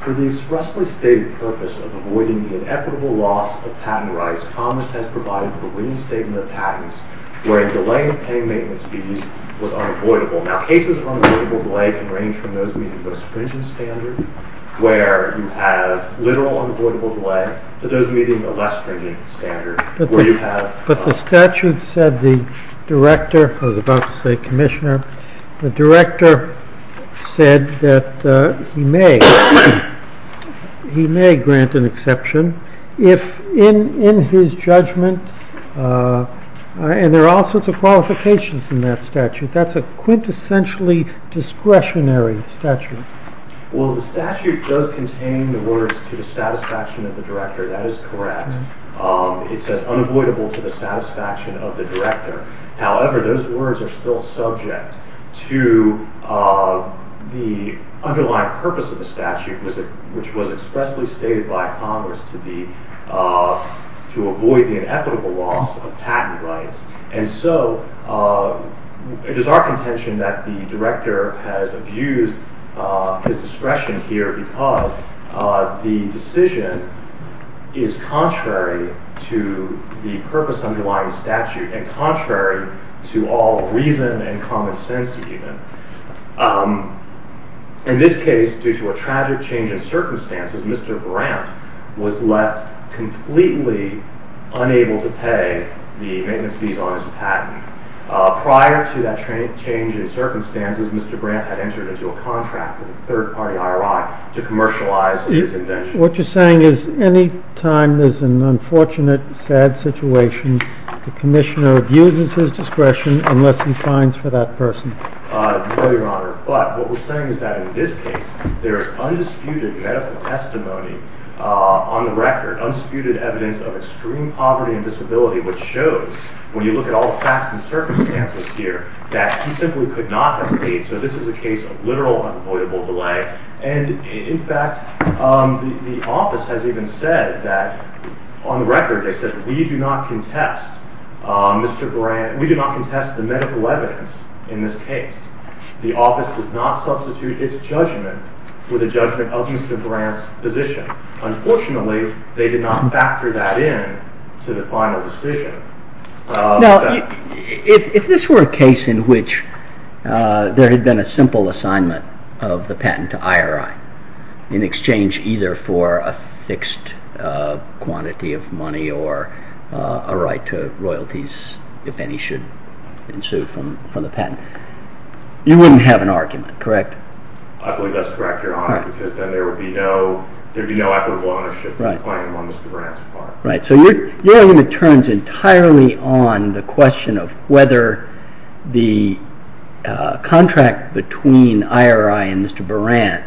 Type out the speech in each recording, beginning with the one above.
For the expressly stated purpose of avoiding the inevitable loss of patent rights, COMMIS has provided the winning statement of patents wherein delaying paying maintenance fees was unavoidable. Now, cases of unavoidable delay can range from those meeting the stringent standard where you have literal unavoidable delay to those meeting the less stringent standard where you have... essentially discretionary statute. Well, the statute does contain the words to the satisfaction of the director. That is correct. It says unavoidable to the satisfaction of the director. However, those words are still subject to the underlying purpose of the statute which was expressly stated by COMMIS to avoid the inevitable loss of patent rights. And so, it is our contention that the director has abused his discretion here because the decision is contrary to the purpose underlying the statute and contrary to all reason and common sense even. In this case, due to a tragic change in circumstances, Mr. Brandt was left completely unable to pay the maintenance fees on his patent. Prior to that change in circumstances, Mr. Brandt had entered into a contract with a third party I.R.I. to commercialize his invention. What you're saying is any time there's an unfortunate, sad situation, the commissioner abuses his discretion unless he finds for that person. No, Your Honor. But what we're saying is that in this case, there is undisputed medical testimony on the record, undisputed evidence of extreme poverty and disability which shows, when you look at all the facts and circumstances here, that he simply could not have paid. So, this is a case of literal unavoidable delay and, in fact, the office has even said that, on the record, they said, we do not contest the medical evidence in this case. The office does not substitute its judgment with a judgment of Mr. Brandt's position. Unfortunately, they did not factor that in to the final decision. Now, if this were a case in which there had been a simple assignment of the patent to I.R.I. in exchange either for a fixed quantity of money or a right to royalties, if any should ensue from the patent, you wouldn't have an argument, correct? I believe that's correct, Your Honor, because then there would be no equitable ownership of the claim on Mr. Brandt's part. Right, so your argument turns entirely on the question of whether the contract between I.R.I. and Mr. Brandt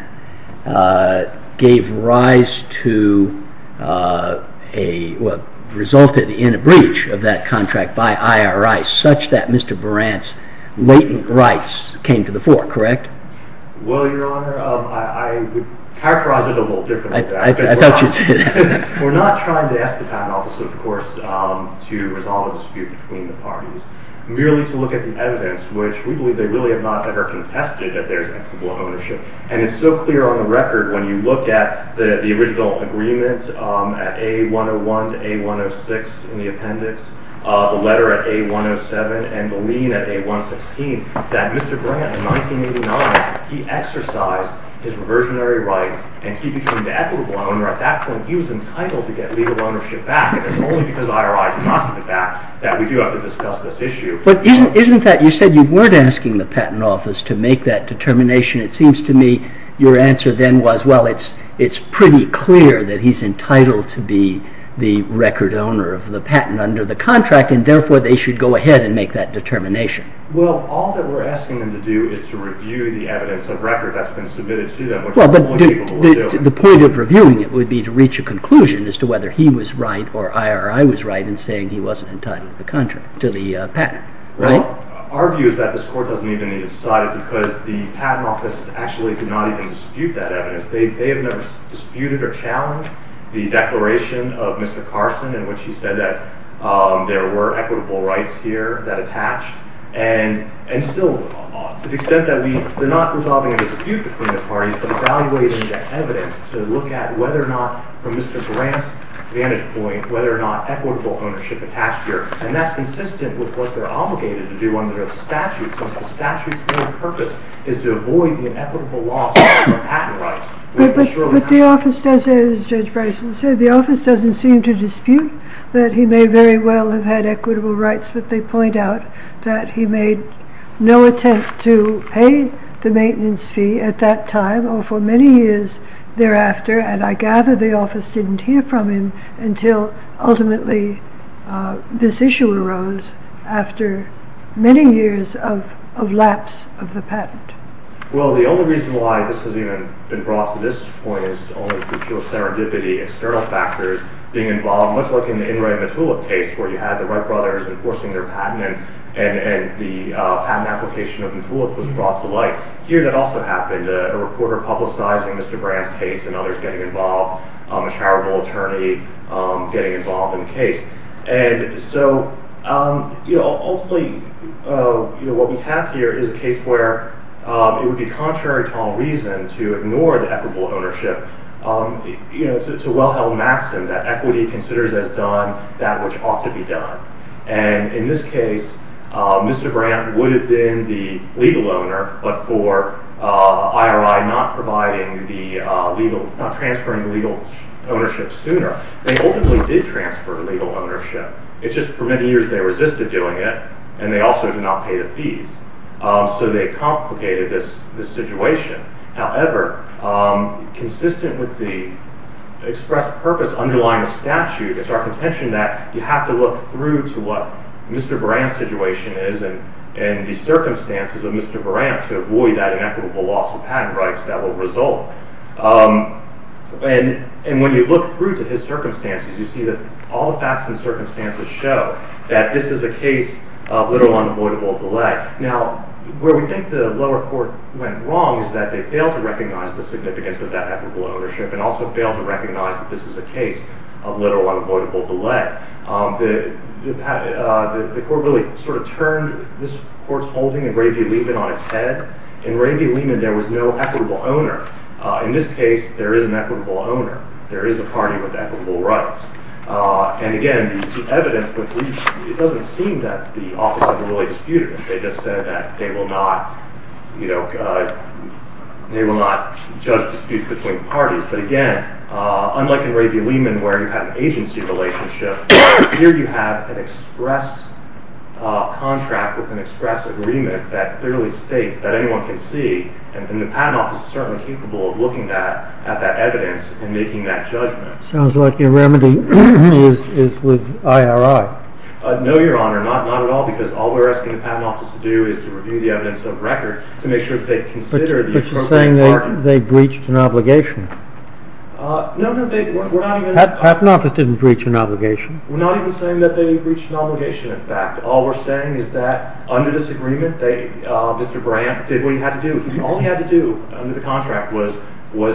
resulted in a breach of that contract by I.R.I. such that Mr. Brandt's latent rights came to the fore, correct? Well, Your Honor, I would characterize it a little differently. I thought you'd say that. We're not trying to ask the patent office, of course, to resolve a dispute between the parties, merely to look at the evidence, which we believe they really have not ever contested that there's equitable ownership. And it's so clear on the record when you look at the original agreement at A101 to A106 in the appendix, the letter at A107, and the lien at A116, that Mr. Brandt, in 1989, he exercised his reversionary right, and he became the equitable owner. At that point, he was entitled to get legal ownership back, and it's only because I.R.I. knocked it back that we do have to discuss this issue. But isn't that, you said you weren't asking the patent office to make that determination. It seems to me your answer then was, well, it's pretty clear that he's entitled to be the record owner of the patent under the contract, and therefore they should go ahead and make that determination. Well, all that we're asking them to do is to review the evidence of record that's been submitted to them, which is what people will do. The point of reviewing it would be to reach a conclusion as to whether he was right or I.R.I. was right in saying he wasn't entitled to the patent, right? Well, our view is that this court doesn't even need to decide it because the patent office actually did not even dispute that evidence. They have never disputed or challenged the declaration of Mr. Carson in which he said that there were equitable rights here that attached. And still, to the extent that they're not resolving a dispute between the parties, but evaluating the evidence to look at whether or not, from Mr. Grant's vantage point, whether or not equitable ownership attached here. And that's consistent with what they're obligated to do under the statute, since the statute's main purpose is to avoid the inequitable loss of patent rights. But the office doesn't, as Judge Bryson said, the office doesn't seem to dispute that he may very well have had equitable rights. But they point out that he made no attempt to pay the maintenance fee at that time or for many years thereafter. And I gather the office didn't hear from him until ultimately this issue arose after many years of lapse of the patent. Well, the only reason why this has even been brought to this point is only through pure serendipity, external factors being involved. Much like in the In Re Matuliff case where you had the Wright brothers enforcing their patent and the patent application of Matuliff was brought to light. Here that also happened, a reporter publicizing Mr. Grant's case and others getting involved, a charitable attorney getting involved in the case. And so ultimately what we have here is a case where it would be contrary to all reason to ignore the equitable ownership. It's a well-held maxim that equity considers as done that which ought to be done. And in this case, Mr. Grant would have been the legal owner, but for IRI not transferring the legal ownership sooner, they ultimately did transfer the legal ownership. It's just for many years they resisted doing it and they also did not pay the fees. So they complicated this situation. However, consistent with the express purpose underlying the statute, it's our contention that you have to look through to what Mr. Buran's situation is and the circumstances of Mr. Buran to avoid that inequitable loss of patent rights that will result. And when you look through to his circumstances, you see that all the facts and circumstances show that this is a case of literal unavoidable delay. Now, where we think the lower court went wrong is that they failed to recognize the significance of that equitable ownership and also failed to recognize that this is a case of literal unavoidable delay. The court really sort of turned this court's holding and Ray V. Lehman on its head. In Ray V. Lehman, there was no equitable owner. In this case, there is an equitable owner. There is a party with equitable rights. And again, the evidence, it doesn't seem that the office had really disputed it. They just said that they will not judge disputes between parties. But again, unlike in Ray V. Lehman where you have an agency relationship, here you have an express contract with an express agreement that clearly states that anyone can see. And the Patent Office is certainly capable of looking at that evidence and making that judgment. Sounds like your remedy is with IRI. No, Your Honor, not at all, because all we're asking the Patent Office to do is to review the evidence of record to make sure that they consider the appropriate argument. But you're saying they breached an obligation. No, no, they were not even… The Patent Office didn't breach an obligation. We're not even saying that they breached an obligation, in fact. All we're saying is that under this agreement, Mr. Brandt did what he had to do. All he had to do under the contract was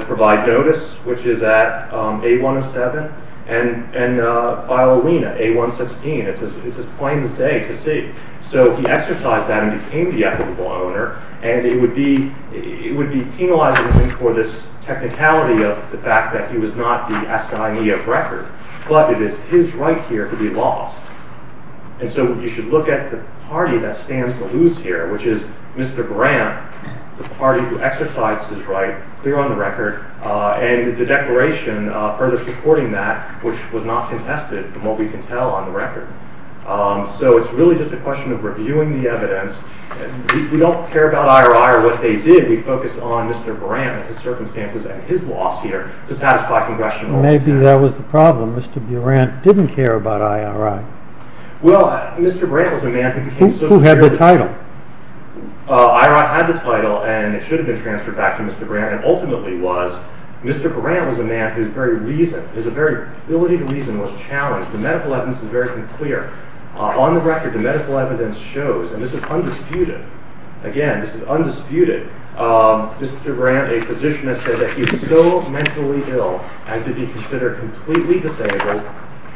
provide notice, which is at 8107, and file a lien at 8116. It's his plaintiff's day to see. So he exercised that and became the equitable owner. And it would be penalizing him for this technicality of the fact that he was not the assignee of record. But it is his right here to be lost. And so you should look at the party that stands to lose here, which is Mr. Brandt, the party who exercised his right, clear on the record, and the declaration further supporting that, which was not contested from what we can tell on the record. We don't care about I.R.I. or what they did. We focus on Mr. Brandt, his circumstances, and his loss here to satisfy congressional intent. Maybe that was the problem. Mr. Brandt didn't care about I.R.I. Well, Mr. Brandt was a man who became… Who had the title. I.R.I. had the title, and it should have been transferred back to Mr. Brandt, and ultimately was Mr. Brandt was a man whose very reason, his very ability to reason was challenged. The medical evidence is very clear. On the record, the medical evidence shows, and this is undisputed, again, this is undisputed, Mr. Brandt, a physician, has said that he is so mentally ill as to be considered completely disabled,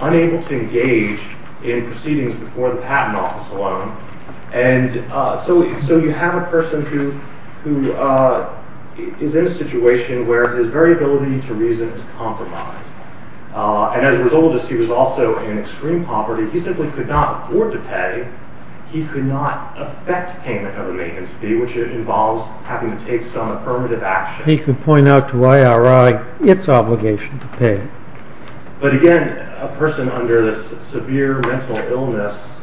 unable to engage in proceedings before the patent office alone. And so you have a person who is in a situation where his very ability to reason is compromised. And as a result of this, he was also in extreme poverty. He simply could not afford to pay. He could not affect payment of a maintenance fee, which involves having to take some affirmative action. He could point out to I.R.I. its obligation to pay. But again, a person under this severe mental illness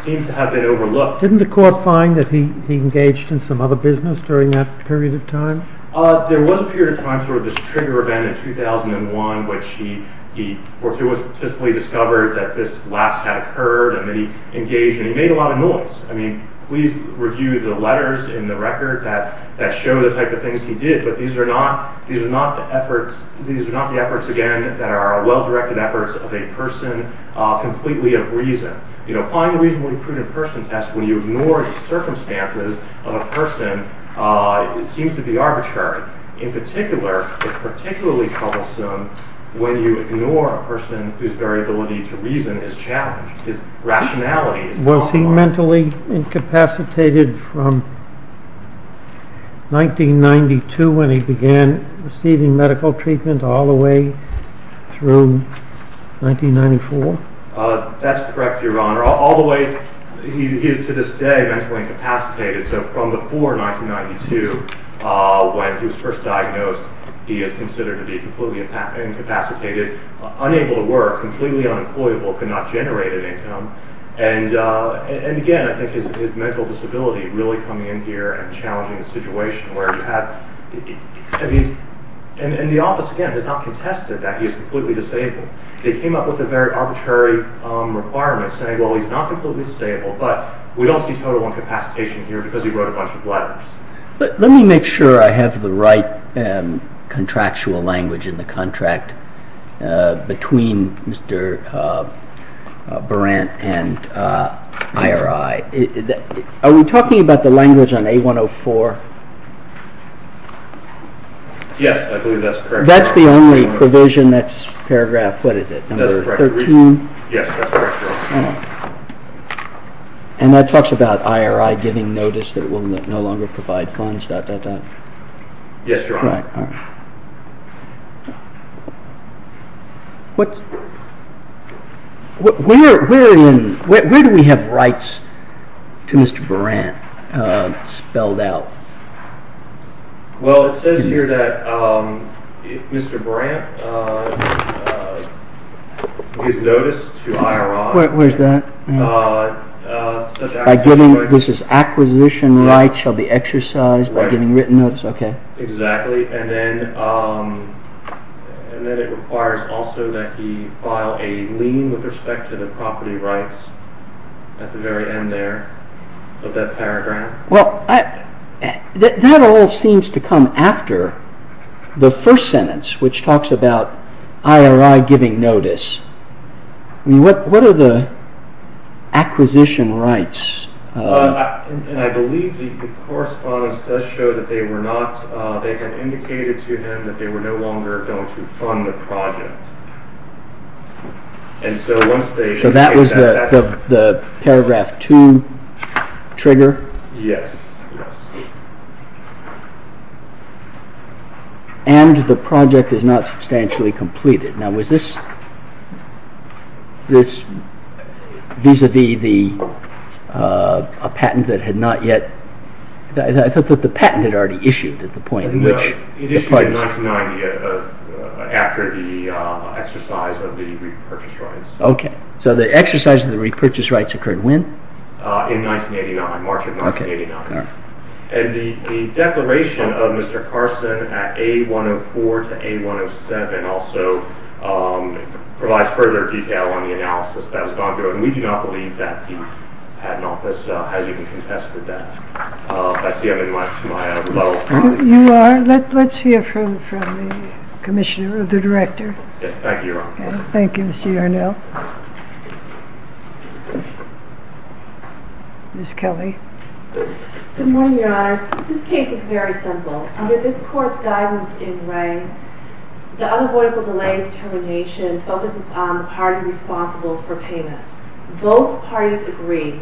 seemed to have been overlooked. Didn't the court find that he engaged in some other business during that period of time? There was a period of time, sort of this trigger event in 2001, which he fortuitously discovered that this lapse had occurred and that he engaged, and he made a lot of noise. I mean, please review the letters in the record that show the type of things he did, but these are not the efforts, again, that are well-directed efforts of a person completely of reason. Applying a reasonably prudent person test when you ignore the circumstances of a person seems to be arbitrary. In particular, it's particularly troublesome when you ignore a person whose variability to reason is challenged. His rationality is compromised. Was he mentally incapacitated from 1992 when he began receiving medical treatment all the way through 1994? That's correct, Your Honor. He is, to this day, mentally incapacitated. So from before 1992, when he was first diagnosed, he is considered to be completely incapacitated, unable to work, completely unemployable, could not generate an income. And again, I think his mental disability really coming in here and challenging the situation where you have... And the office, again, has not contested that he is completely disabled. They came up with a very arbitrary requirement saying, well, he's not completely disabled, but we don't see total incapacitation here because he wrote a bunch of letters. But let me make sure I have the right contractual language in the contract between Mr. Berant and IRI. Are we talking about the language on A104? Yes, I believe that's correct. That's the only provision that's paragraph, what is it, number 13? Yes, that's correct, Your Honor. And that talks about IRI giving notice that it will no longer provide funds, dot, dot, dot? Yes, Your Honor. Where do we have rights to Mr. Berant spelled out? Well, it says here that if Mr. Berant gives notice to IRI... Where's that? This is acquisition rights shall be exercised by giving written notice, okay. Exactly, and then it requires also that he file a lien with respect to the property rights at the very end there of that paragraph. Well, that all seems to come after the first sentence which talks about IRI giving notice. What are the acquisition rights? And I believe the correspondence does show that they were not, they had indicated to him that they were no longer going to fund the project. And so once they... So that was the paragraph 2 trigger? Yes, yes. And the project is not substantially completed. Now was this vis-a-vis the patent that had not yet, I thought that the patent had already issued at the point in which... It issued in 1990 after the exercise of the repurchase rights. Okay, so the exercise of the repurchase rights occurred when? In 1989, March of 1989. And the declaration of Mr. Carson at A104 to A107 also provides further detail on the analysis that has gone through. And we do not believe that the patent office has even contested that. I see I've been brought to my low point. You are. Let's hear from the commissioner or the director. Thank you, Your Honor. Thank you, Mr. Yarnell. Ms. Kelly. Good morning, Your Honors. This case is very simple. Under this court's guidance in Ray, the unavoidable delay determination focuses on the party responsible for payment. Both parties agree.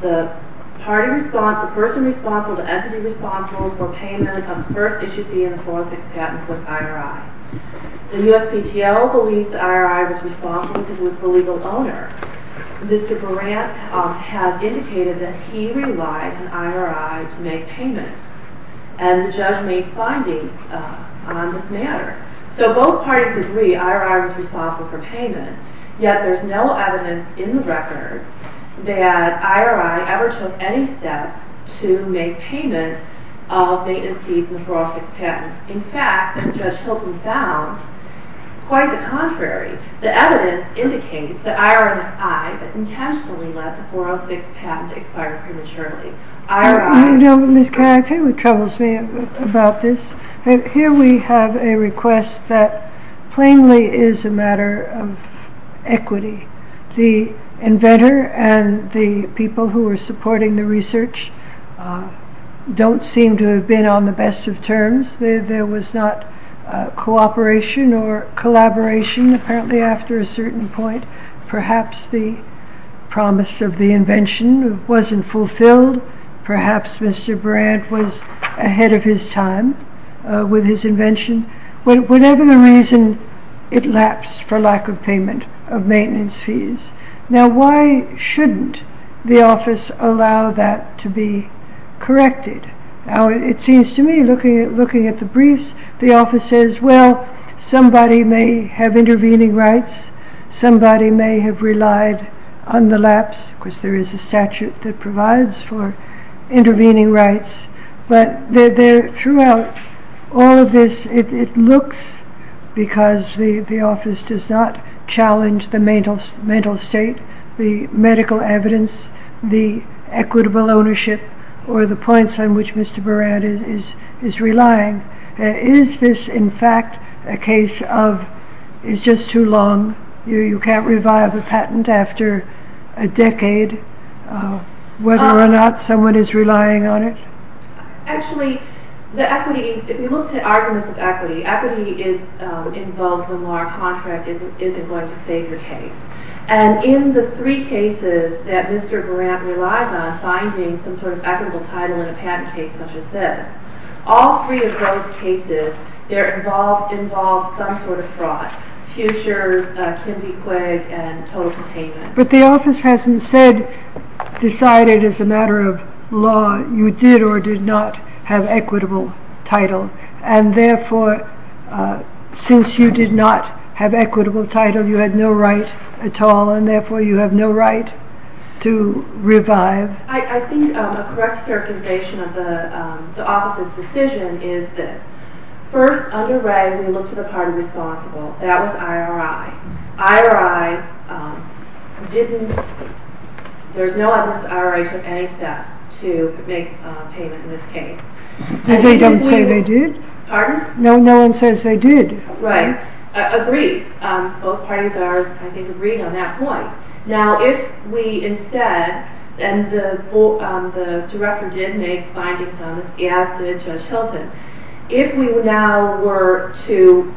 The person responsible, the entity responsible for payment of the first issue fee in the 406 patent was IRI. The USPTO believes that IRI was responsible because it was the legal owner. Mr. Burant has indicated that he relied on IRI to make payment. And the judge made findings on this matter. So both parties agree IRI was responsible for payment. Yet there's no evidence in the record that IRI ever took any steps to make payment of maintenance fees in the 406 patent. In fact, as Judge Hilton found, quite the contrary. The evidence indicates that IRI intentionally let the 406 patent expire prematurely. You know, Ms. Kelly, it troubles me about this. Here we have a request that plainly is a matter of equity. The inventor and the people who are supporting the research don't seem to have been on the best of terms. There was not cooperation or collaboration apparently after a certain point. Perhaps the promise of the invention wasn't fulfilled. Perhaps Mr. Burant was ahead of his time with his invention. Whatever the reason, it lapsed for lack of payment of maintenance fees. Now why shouldn't the office allow that to be corrected? It seems to me, looking at the briefs, the office says, well, somebody may have intervening rights. Somebody may have relied on the lapse, because there is a statute that provides for intervening rights. But throughout all of this, it looks because the office does not challenge the mental state, the medical evidence, the equitable ownership, or the points on which Mr. Burant is relying. Is this, in fact, a case of it's just too long? You can't revive a patent after a decade, whether or not someone is relying on it? Actually, if you look at arguments of equity, equity is involved when our contract isn't going to save your case. And in the three cases that Mr. Burant relies on finding some sort of equitable title in a patent case such as this, all three of those cases involve some sort of fraud. Futures, can be quid, and total containment. But the office hasn't said, decided as a matter of law, you did or did not have equitable title. And therefore, since you did not have equitable title, you had no right at all, and therefore you have no right to revive. I think a correct characterization of the office's decision is this. First, under Wray, we looked at a party responsible. That was IRI. IRI didn't, there's no evidence that IRI took any steps to make payment in this case. They don't say they did? Pardon? No one says they did. Right. Agreed. Both parties are, I think, agreed on that point. Now, if we instead, and the director did make findings on this, as did Judge Hilton. If we now were to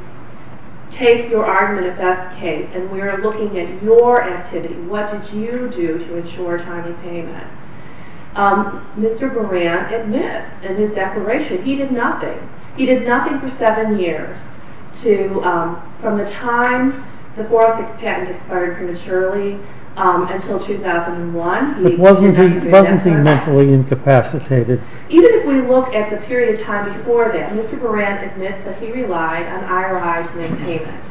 take your argument of best case, and we're looking at your activity, what did you do to ensure timely payment? Mr. Burant admits in his declaration, he did nothing. He did nothing for seven years to, from the time the 406 patent expired prematurely until 2001. But wasn't he mentally incapacitated? Even if we look at the period of time before that, Mr. Burant admits that he relied on IRI to make payment.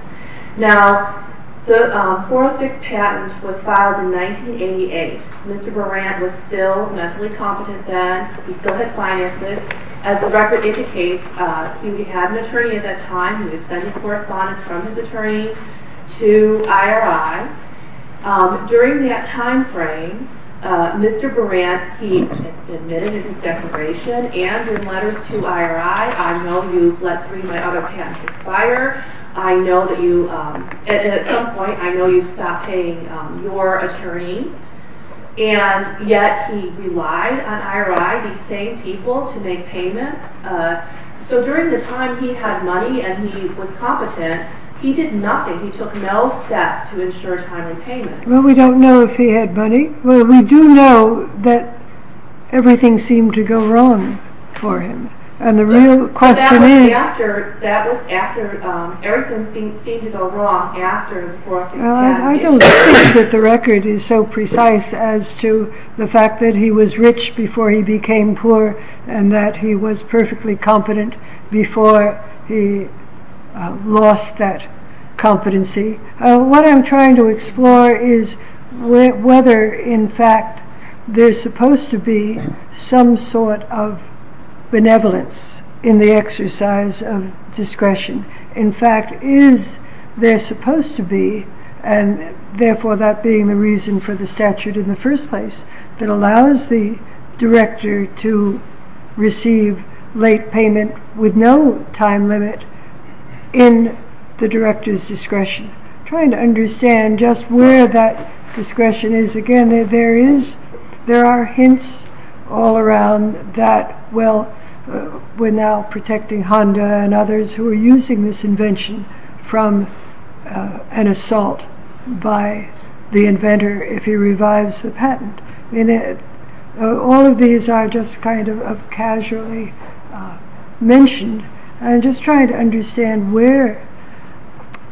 Now, the 406 patent was filed in 1988. Mr. Burant was still mentally competent then. He still had finances. As the record indicates, he had an attorney at that time. He was sending correspondence from his attorney to IRI. During that time frame, Mr. Burant, he admitted in his declaration and in letters to IRI, I know you've let three of my other patents expire. I know that you, and at some point, I know you've stopped paying your attorney. And yet he relied on IRI, these same people, to make payment. So during the time he had money and he was competent, he did nothing. He took no steps to ensure timely payment. Well, we don't know if he had money. Well, we do know that everything seemed to go wrong for him. And the real question is... That was after, everything seemed to go wrong after the 406 patent expired. Well, I don't think that the record is so precise as to the fact that he was rich before he became poor and that he was perfectly competent before he lost that competency. What I'm trying to explore is whether, in fact, there's supposed to be some sort of benevolence in the exercise of discretion. In fact, is there supposed to be, and therefore that being the reason for the statute in the first place, that allows the director to receive late payment with no time limit in the director's discretion. I'm trying to understand just where that discretion is. Again, there are hints all around that, well, we're now protecting Honda and others who are using this invention from an assault by the inventor if he revives the patent. All of these are just kind of casually mentioned. I'm just trying to understand where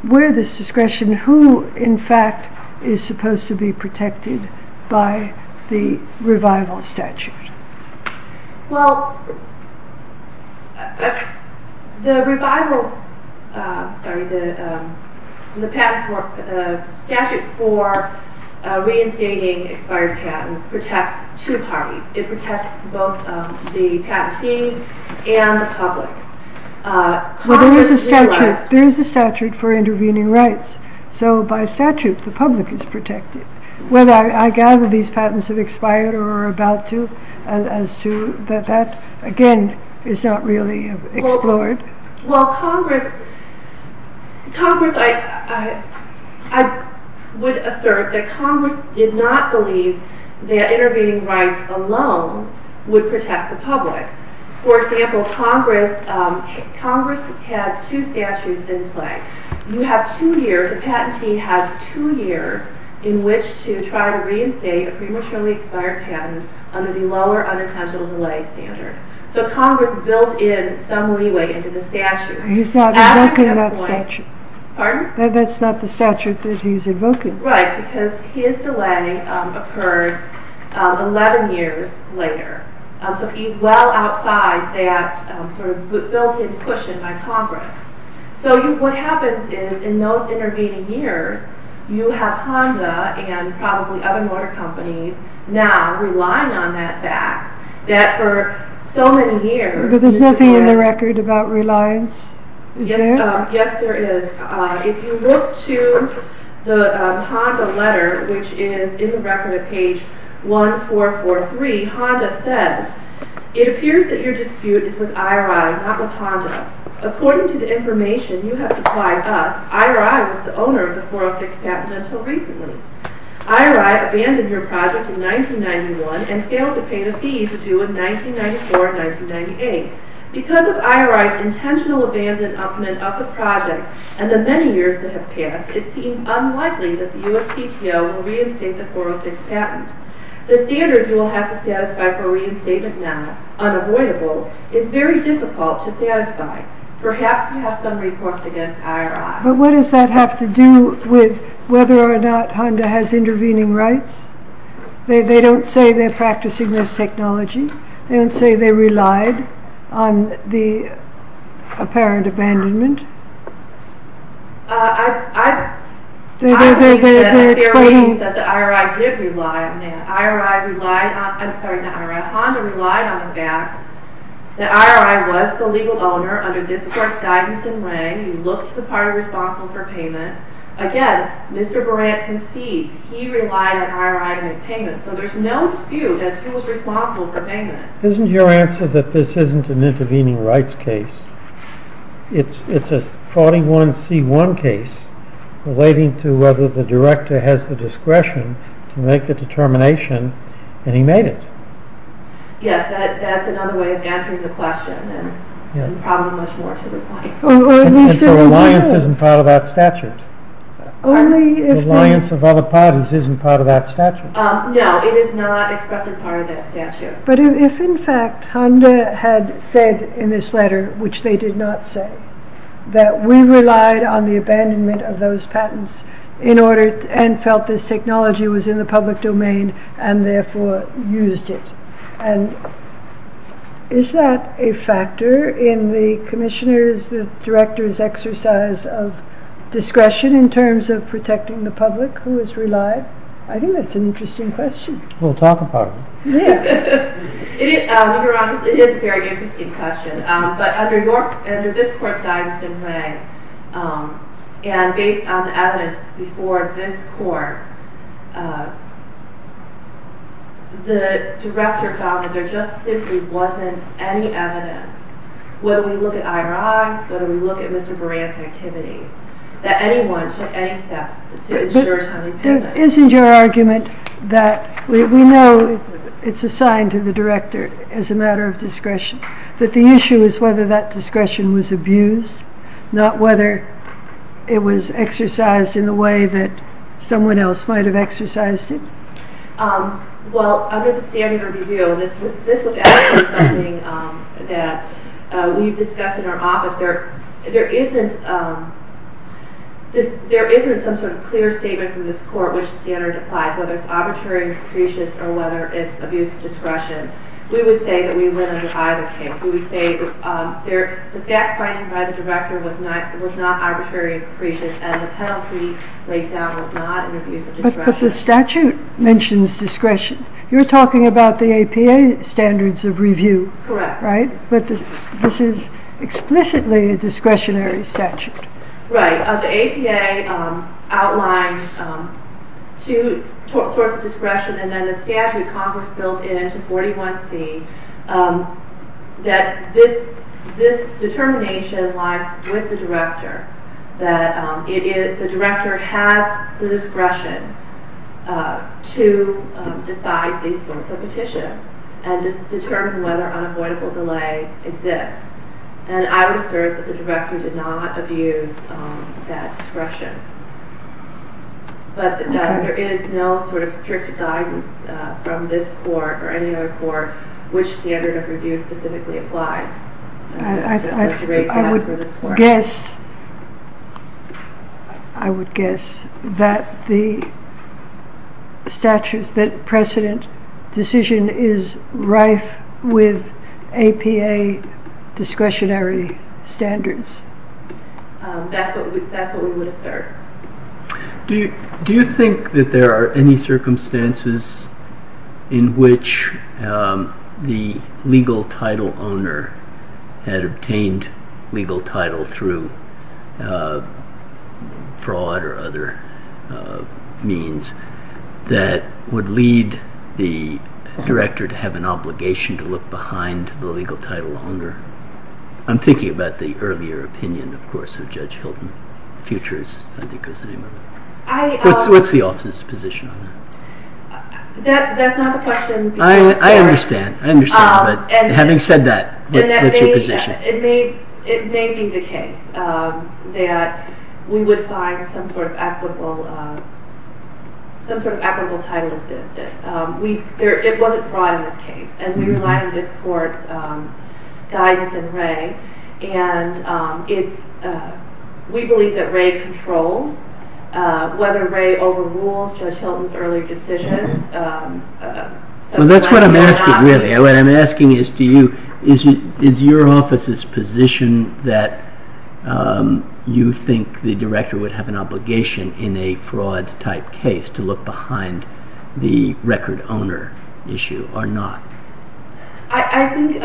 this discretion, who in fact is supposed to be protected by the revival statute. Well, the revival statute for reinstating expired patents protects two parties. It protects both the patentee and the public. There is a statute for intervening rights, so by statute the public is protected. Well, I gather these patents have expired or are about to, as to that that, again, is not really explored. Well, Congress, I would assert that Congress did not believe that intervening rights alone would protect the public. For example, Congress had two statutes in play. You have two years, the patentee has two years in which to try to reinstate a prematurely expired patent under the lower unintentional delay standard. So Congress built in some leeway into the statute. He's not invoking that statute. Pardon? That's not the statute that he's invoking. Right, because his delay occurred 11 years later, so he's well outside that sort of built-in cushion by Congress. So what happens is, in those intervening years, you have Honda and probably other motor companies now relying on that fact that for so many years... But there's nothing in the record about reliance, is there? Yes, there is. If you look to the Honda letter, which is in the record at page 1443, Honda says, It appears that your dispute is with IRI, not with Honda. According to the information you have supplied us, IRI was the owner of the 406 patent until recently. IRI abandoned your project in 1991 and failed to pay the fees due in 1994 and 1998. Because of IRI's intentional abandonment of the project and the many years that have passed, it seems unlikely that the USPTO will reinstate the 406 patent. The standard you will have to satisfy for reinstatement now, unavoidable, is very difficult to satisfy. Perhaps you have some reports against IRI. But what does that have to do with whether or not Honda has intervening rights? They don't say they're practicing this technology? They don't say they relied on the apparent abandonment? I believe that in theory he says that IRI did rely on him. Honda relied on him back. That IRI was the legal owner under this court's guidance and reign. You look to the party responsible for payment. Again, Mr. Brandt concedes he relied on IRI to make payments. So there's no dispute as to who was responsible for payment. Isn't your answer that this isn't an intervening rights case? It's a 41C1 case relating to whether the director has the discretion to make the determination, and he made it. Yes, that's another way of answering the question, and probably much more to reply. But the reliance isn't part of that statute? The reliance of other parties isn't part of that statute? No, it is not expressed as part of that statute. But if in fact Honda had said in this letter, which they did not say, that we relied on the abandonment of those patents and felt this technology was in the public domain and therefore used it, is that a factor in the commissioner's, the director's exercise of discretion in terms of protecting the public who is relied? I think that's an interesting question. We'll talk about it. It is a very interesting question. But under this court's guidance in May, and based on the evidence before this court, the director found that there just simply wasn't any evidence, whether we look at IRI, whether we look at Mr. Buran's activities, that anyone took any steps to ensure timely payment. But isn't your argument that we know it's assigned to the director as a matter of discretion, that the issue is whether that discretion was abused, not whether it was exercised in the way that someone else might have exercised it? Well, under the standing review, this was actually something that we discussed in our office. There isn't some sort of clear statement from this court which standard applies, whether it's arbitrary and capricious or whether it's abuse of discretion. We would say that we went under either case. We would say the scat finding by the director was not arbitrary and capricious and the penalty laid down was not an abuse of discretion. But the statute mentions discretion. You're talking about the APA standards of review, right? Correct. But this is explicitly a discretionary statute. Right. The APA outlines two sorts of discretion and then the statute Congress built into 41C that this determination lies with the director, that the director has the discretion to decide these sorts of petitions and just determine whether unavoidable delay exists. And I would assert that the director did not abuse that discretion. But there is no sort of strict guidance from this court or any other court which standard of review specifically applies. I would guess that the statute, that precedent decision is rife with APA discretionary standards. That's what we would assert. Do you think that there are any circumstances in which the legal title owner had obtained legal title through fraud or other means that would lead the director to have an obligation to look behind the legal title owner? I'm thinking about the earlier opinion, of course, of Judge Hilton. Futures, I think, was the name of it. What's the office's position on that? That's not the question. I understand. I understand. But having said that, what's your position? It may be the case that we would find some sort of equitable title assistant. It wasn't fraud in this case. And we rely on this court's guidance in Ray. And we believe that Ray controls. Whether Ray overrules Judge Hilton's earlier decisions, that's what I'm asking really. What I'm asking is to you, is your office's position that you think the director would have an obligation in a fraud-type case to look behind the record owner issue or not? I think...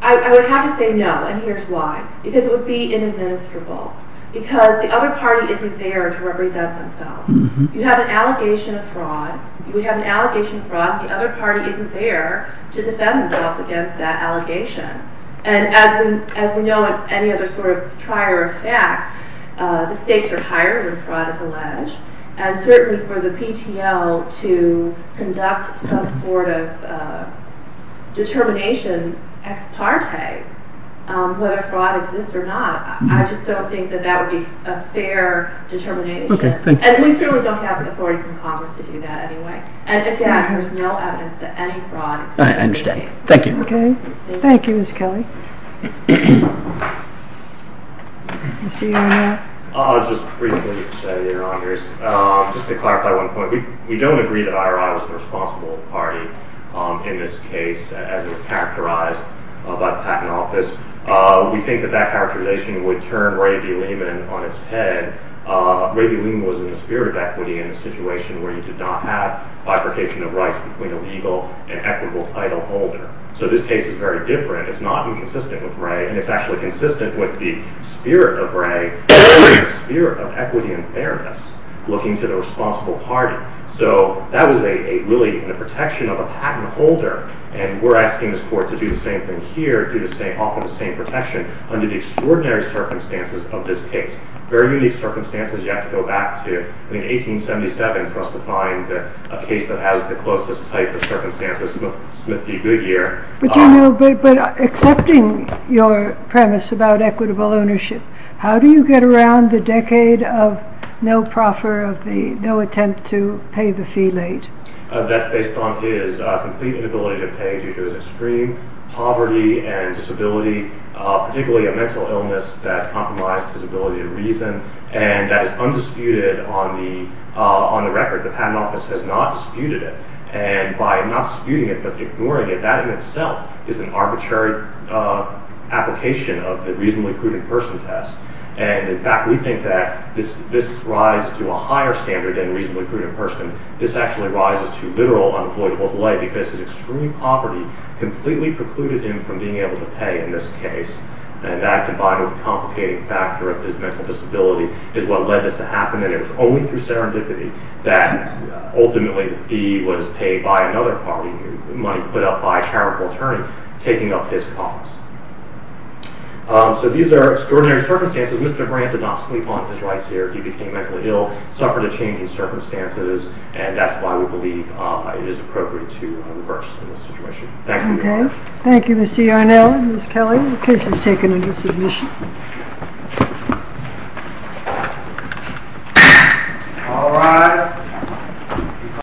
I would have to say no, and here's why. Because it would be inadministrable. Because the other party isn't there to represent themselves. You have an allegation of fraud. You would have an allegation of fraud. The other party isn't there to defend themselves against that allegation. And as we know of any other sort of trier of fact, the stakes are higher when fraud is alleged. And certainly for the PTL to conduct some sort of determination ex parte whether fraud exists or not, I just don't think that that would be a fair determination. And we certainly don't have the authority from Congress to do that anyway. And again, there's no evidence that any fraud is in this case. I understand. Thank you. Okay. Thank you, Ms. Kelly. Just briefly, your honors. Just to clarify one point. We don't agree that I.R.I. was the responsible party in this case as was characterized by the Patent Office. We think that that characterization would turn Ray D. Lehman on its head. Ray D. Lehman was in the spirit of equity in a situation where you did not have bifurcation of rights between a legal and equitable title holder. So this case is very different. It's not inconsistent with Ray. And it's actually consistent with the spirit of Ray and the spirit of equity and fairness looking to the responsible party. So that was really in the protection of a patent holder. And we're asking this court to do the same thing here, offer the same protection under the extraordinary circumstances of this case. Very unique circumstances. You have to go back to 1877 for us to find a case that has the closest type of circumstances with Smith v. Goodyear. But accepting your premise about equitable ownership, how do you get around the decade of no proffer, no attempt to pay the fee late? That's based on his complete inability to pay due to his extreme poverty and disability, particularly a mental illness that compromised his ability to reason. And that is undisputed on the record. The Patent Office has not disputed it. And by not disputing it but ignoring it, that in itself is an arbitrary application of the reasonably prudent person test. And in fact, we think that this rises to a higher standard than reasonably prudent person. This actually rises to literal unavoidable delay because his extreme poverty completely precluded him from being able to pay in this case. And that, combined with the complicated factor of his mental disability, is what led this to happen. And it was only through serendipity that ultimately the fee was paid by another party, money put up by a charitable attorney, taking up his cause. So these are extraordinary circumstances. Mr. Grant did not sleep on his rights here. He became mentally ill, suffered a change in circumstances, and that's why we believe it is appropriate to reverse the situation. Thank you very much. Thank you, Mr. Yarnell and Ms. Kelly. The case is taken under submission.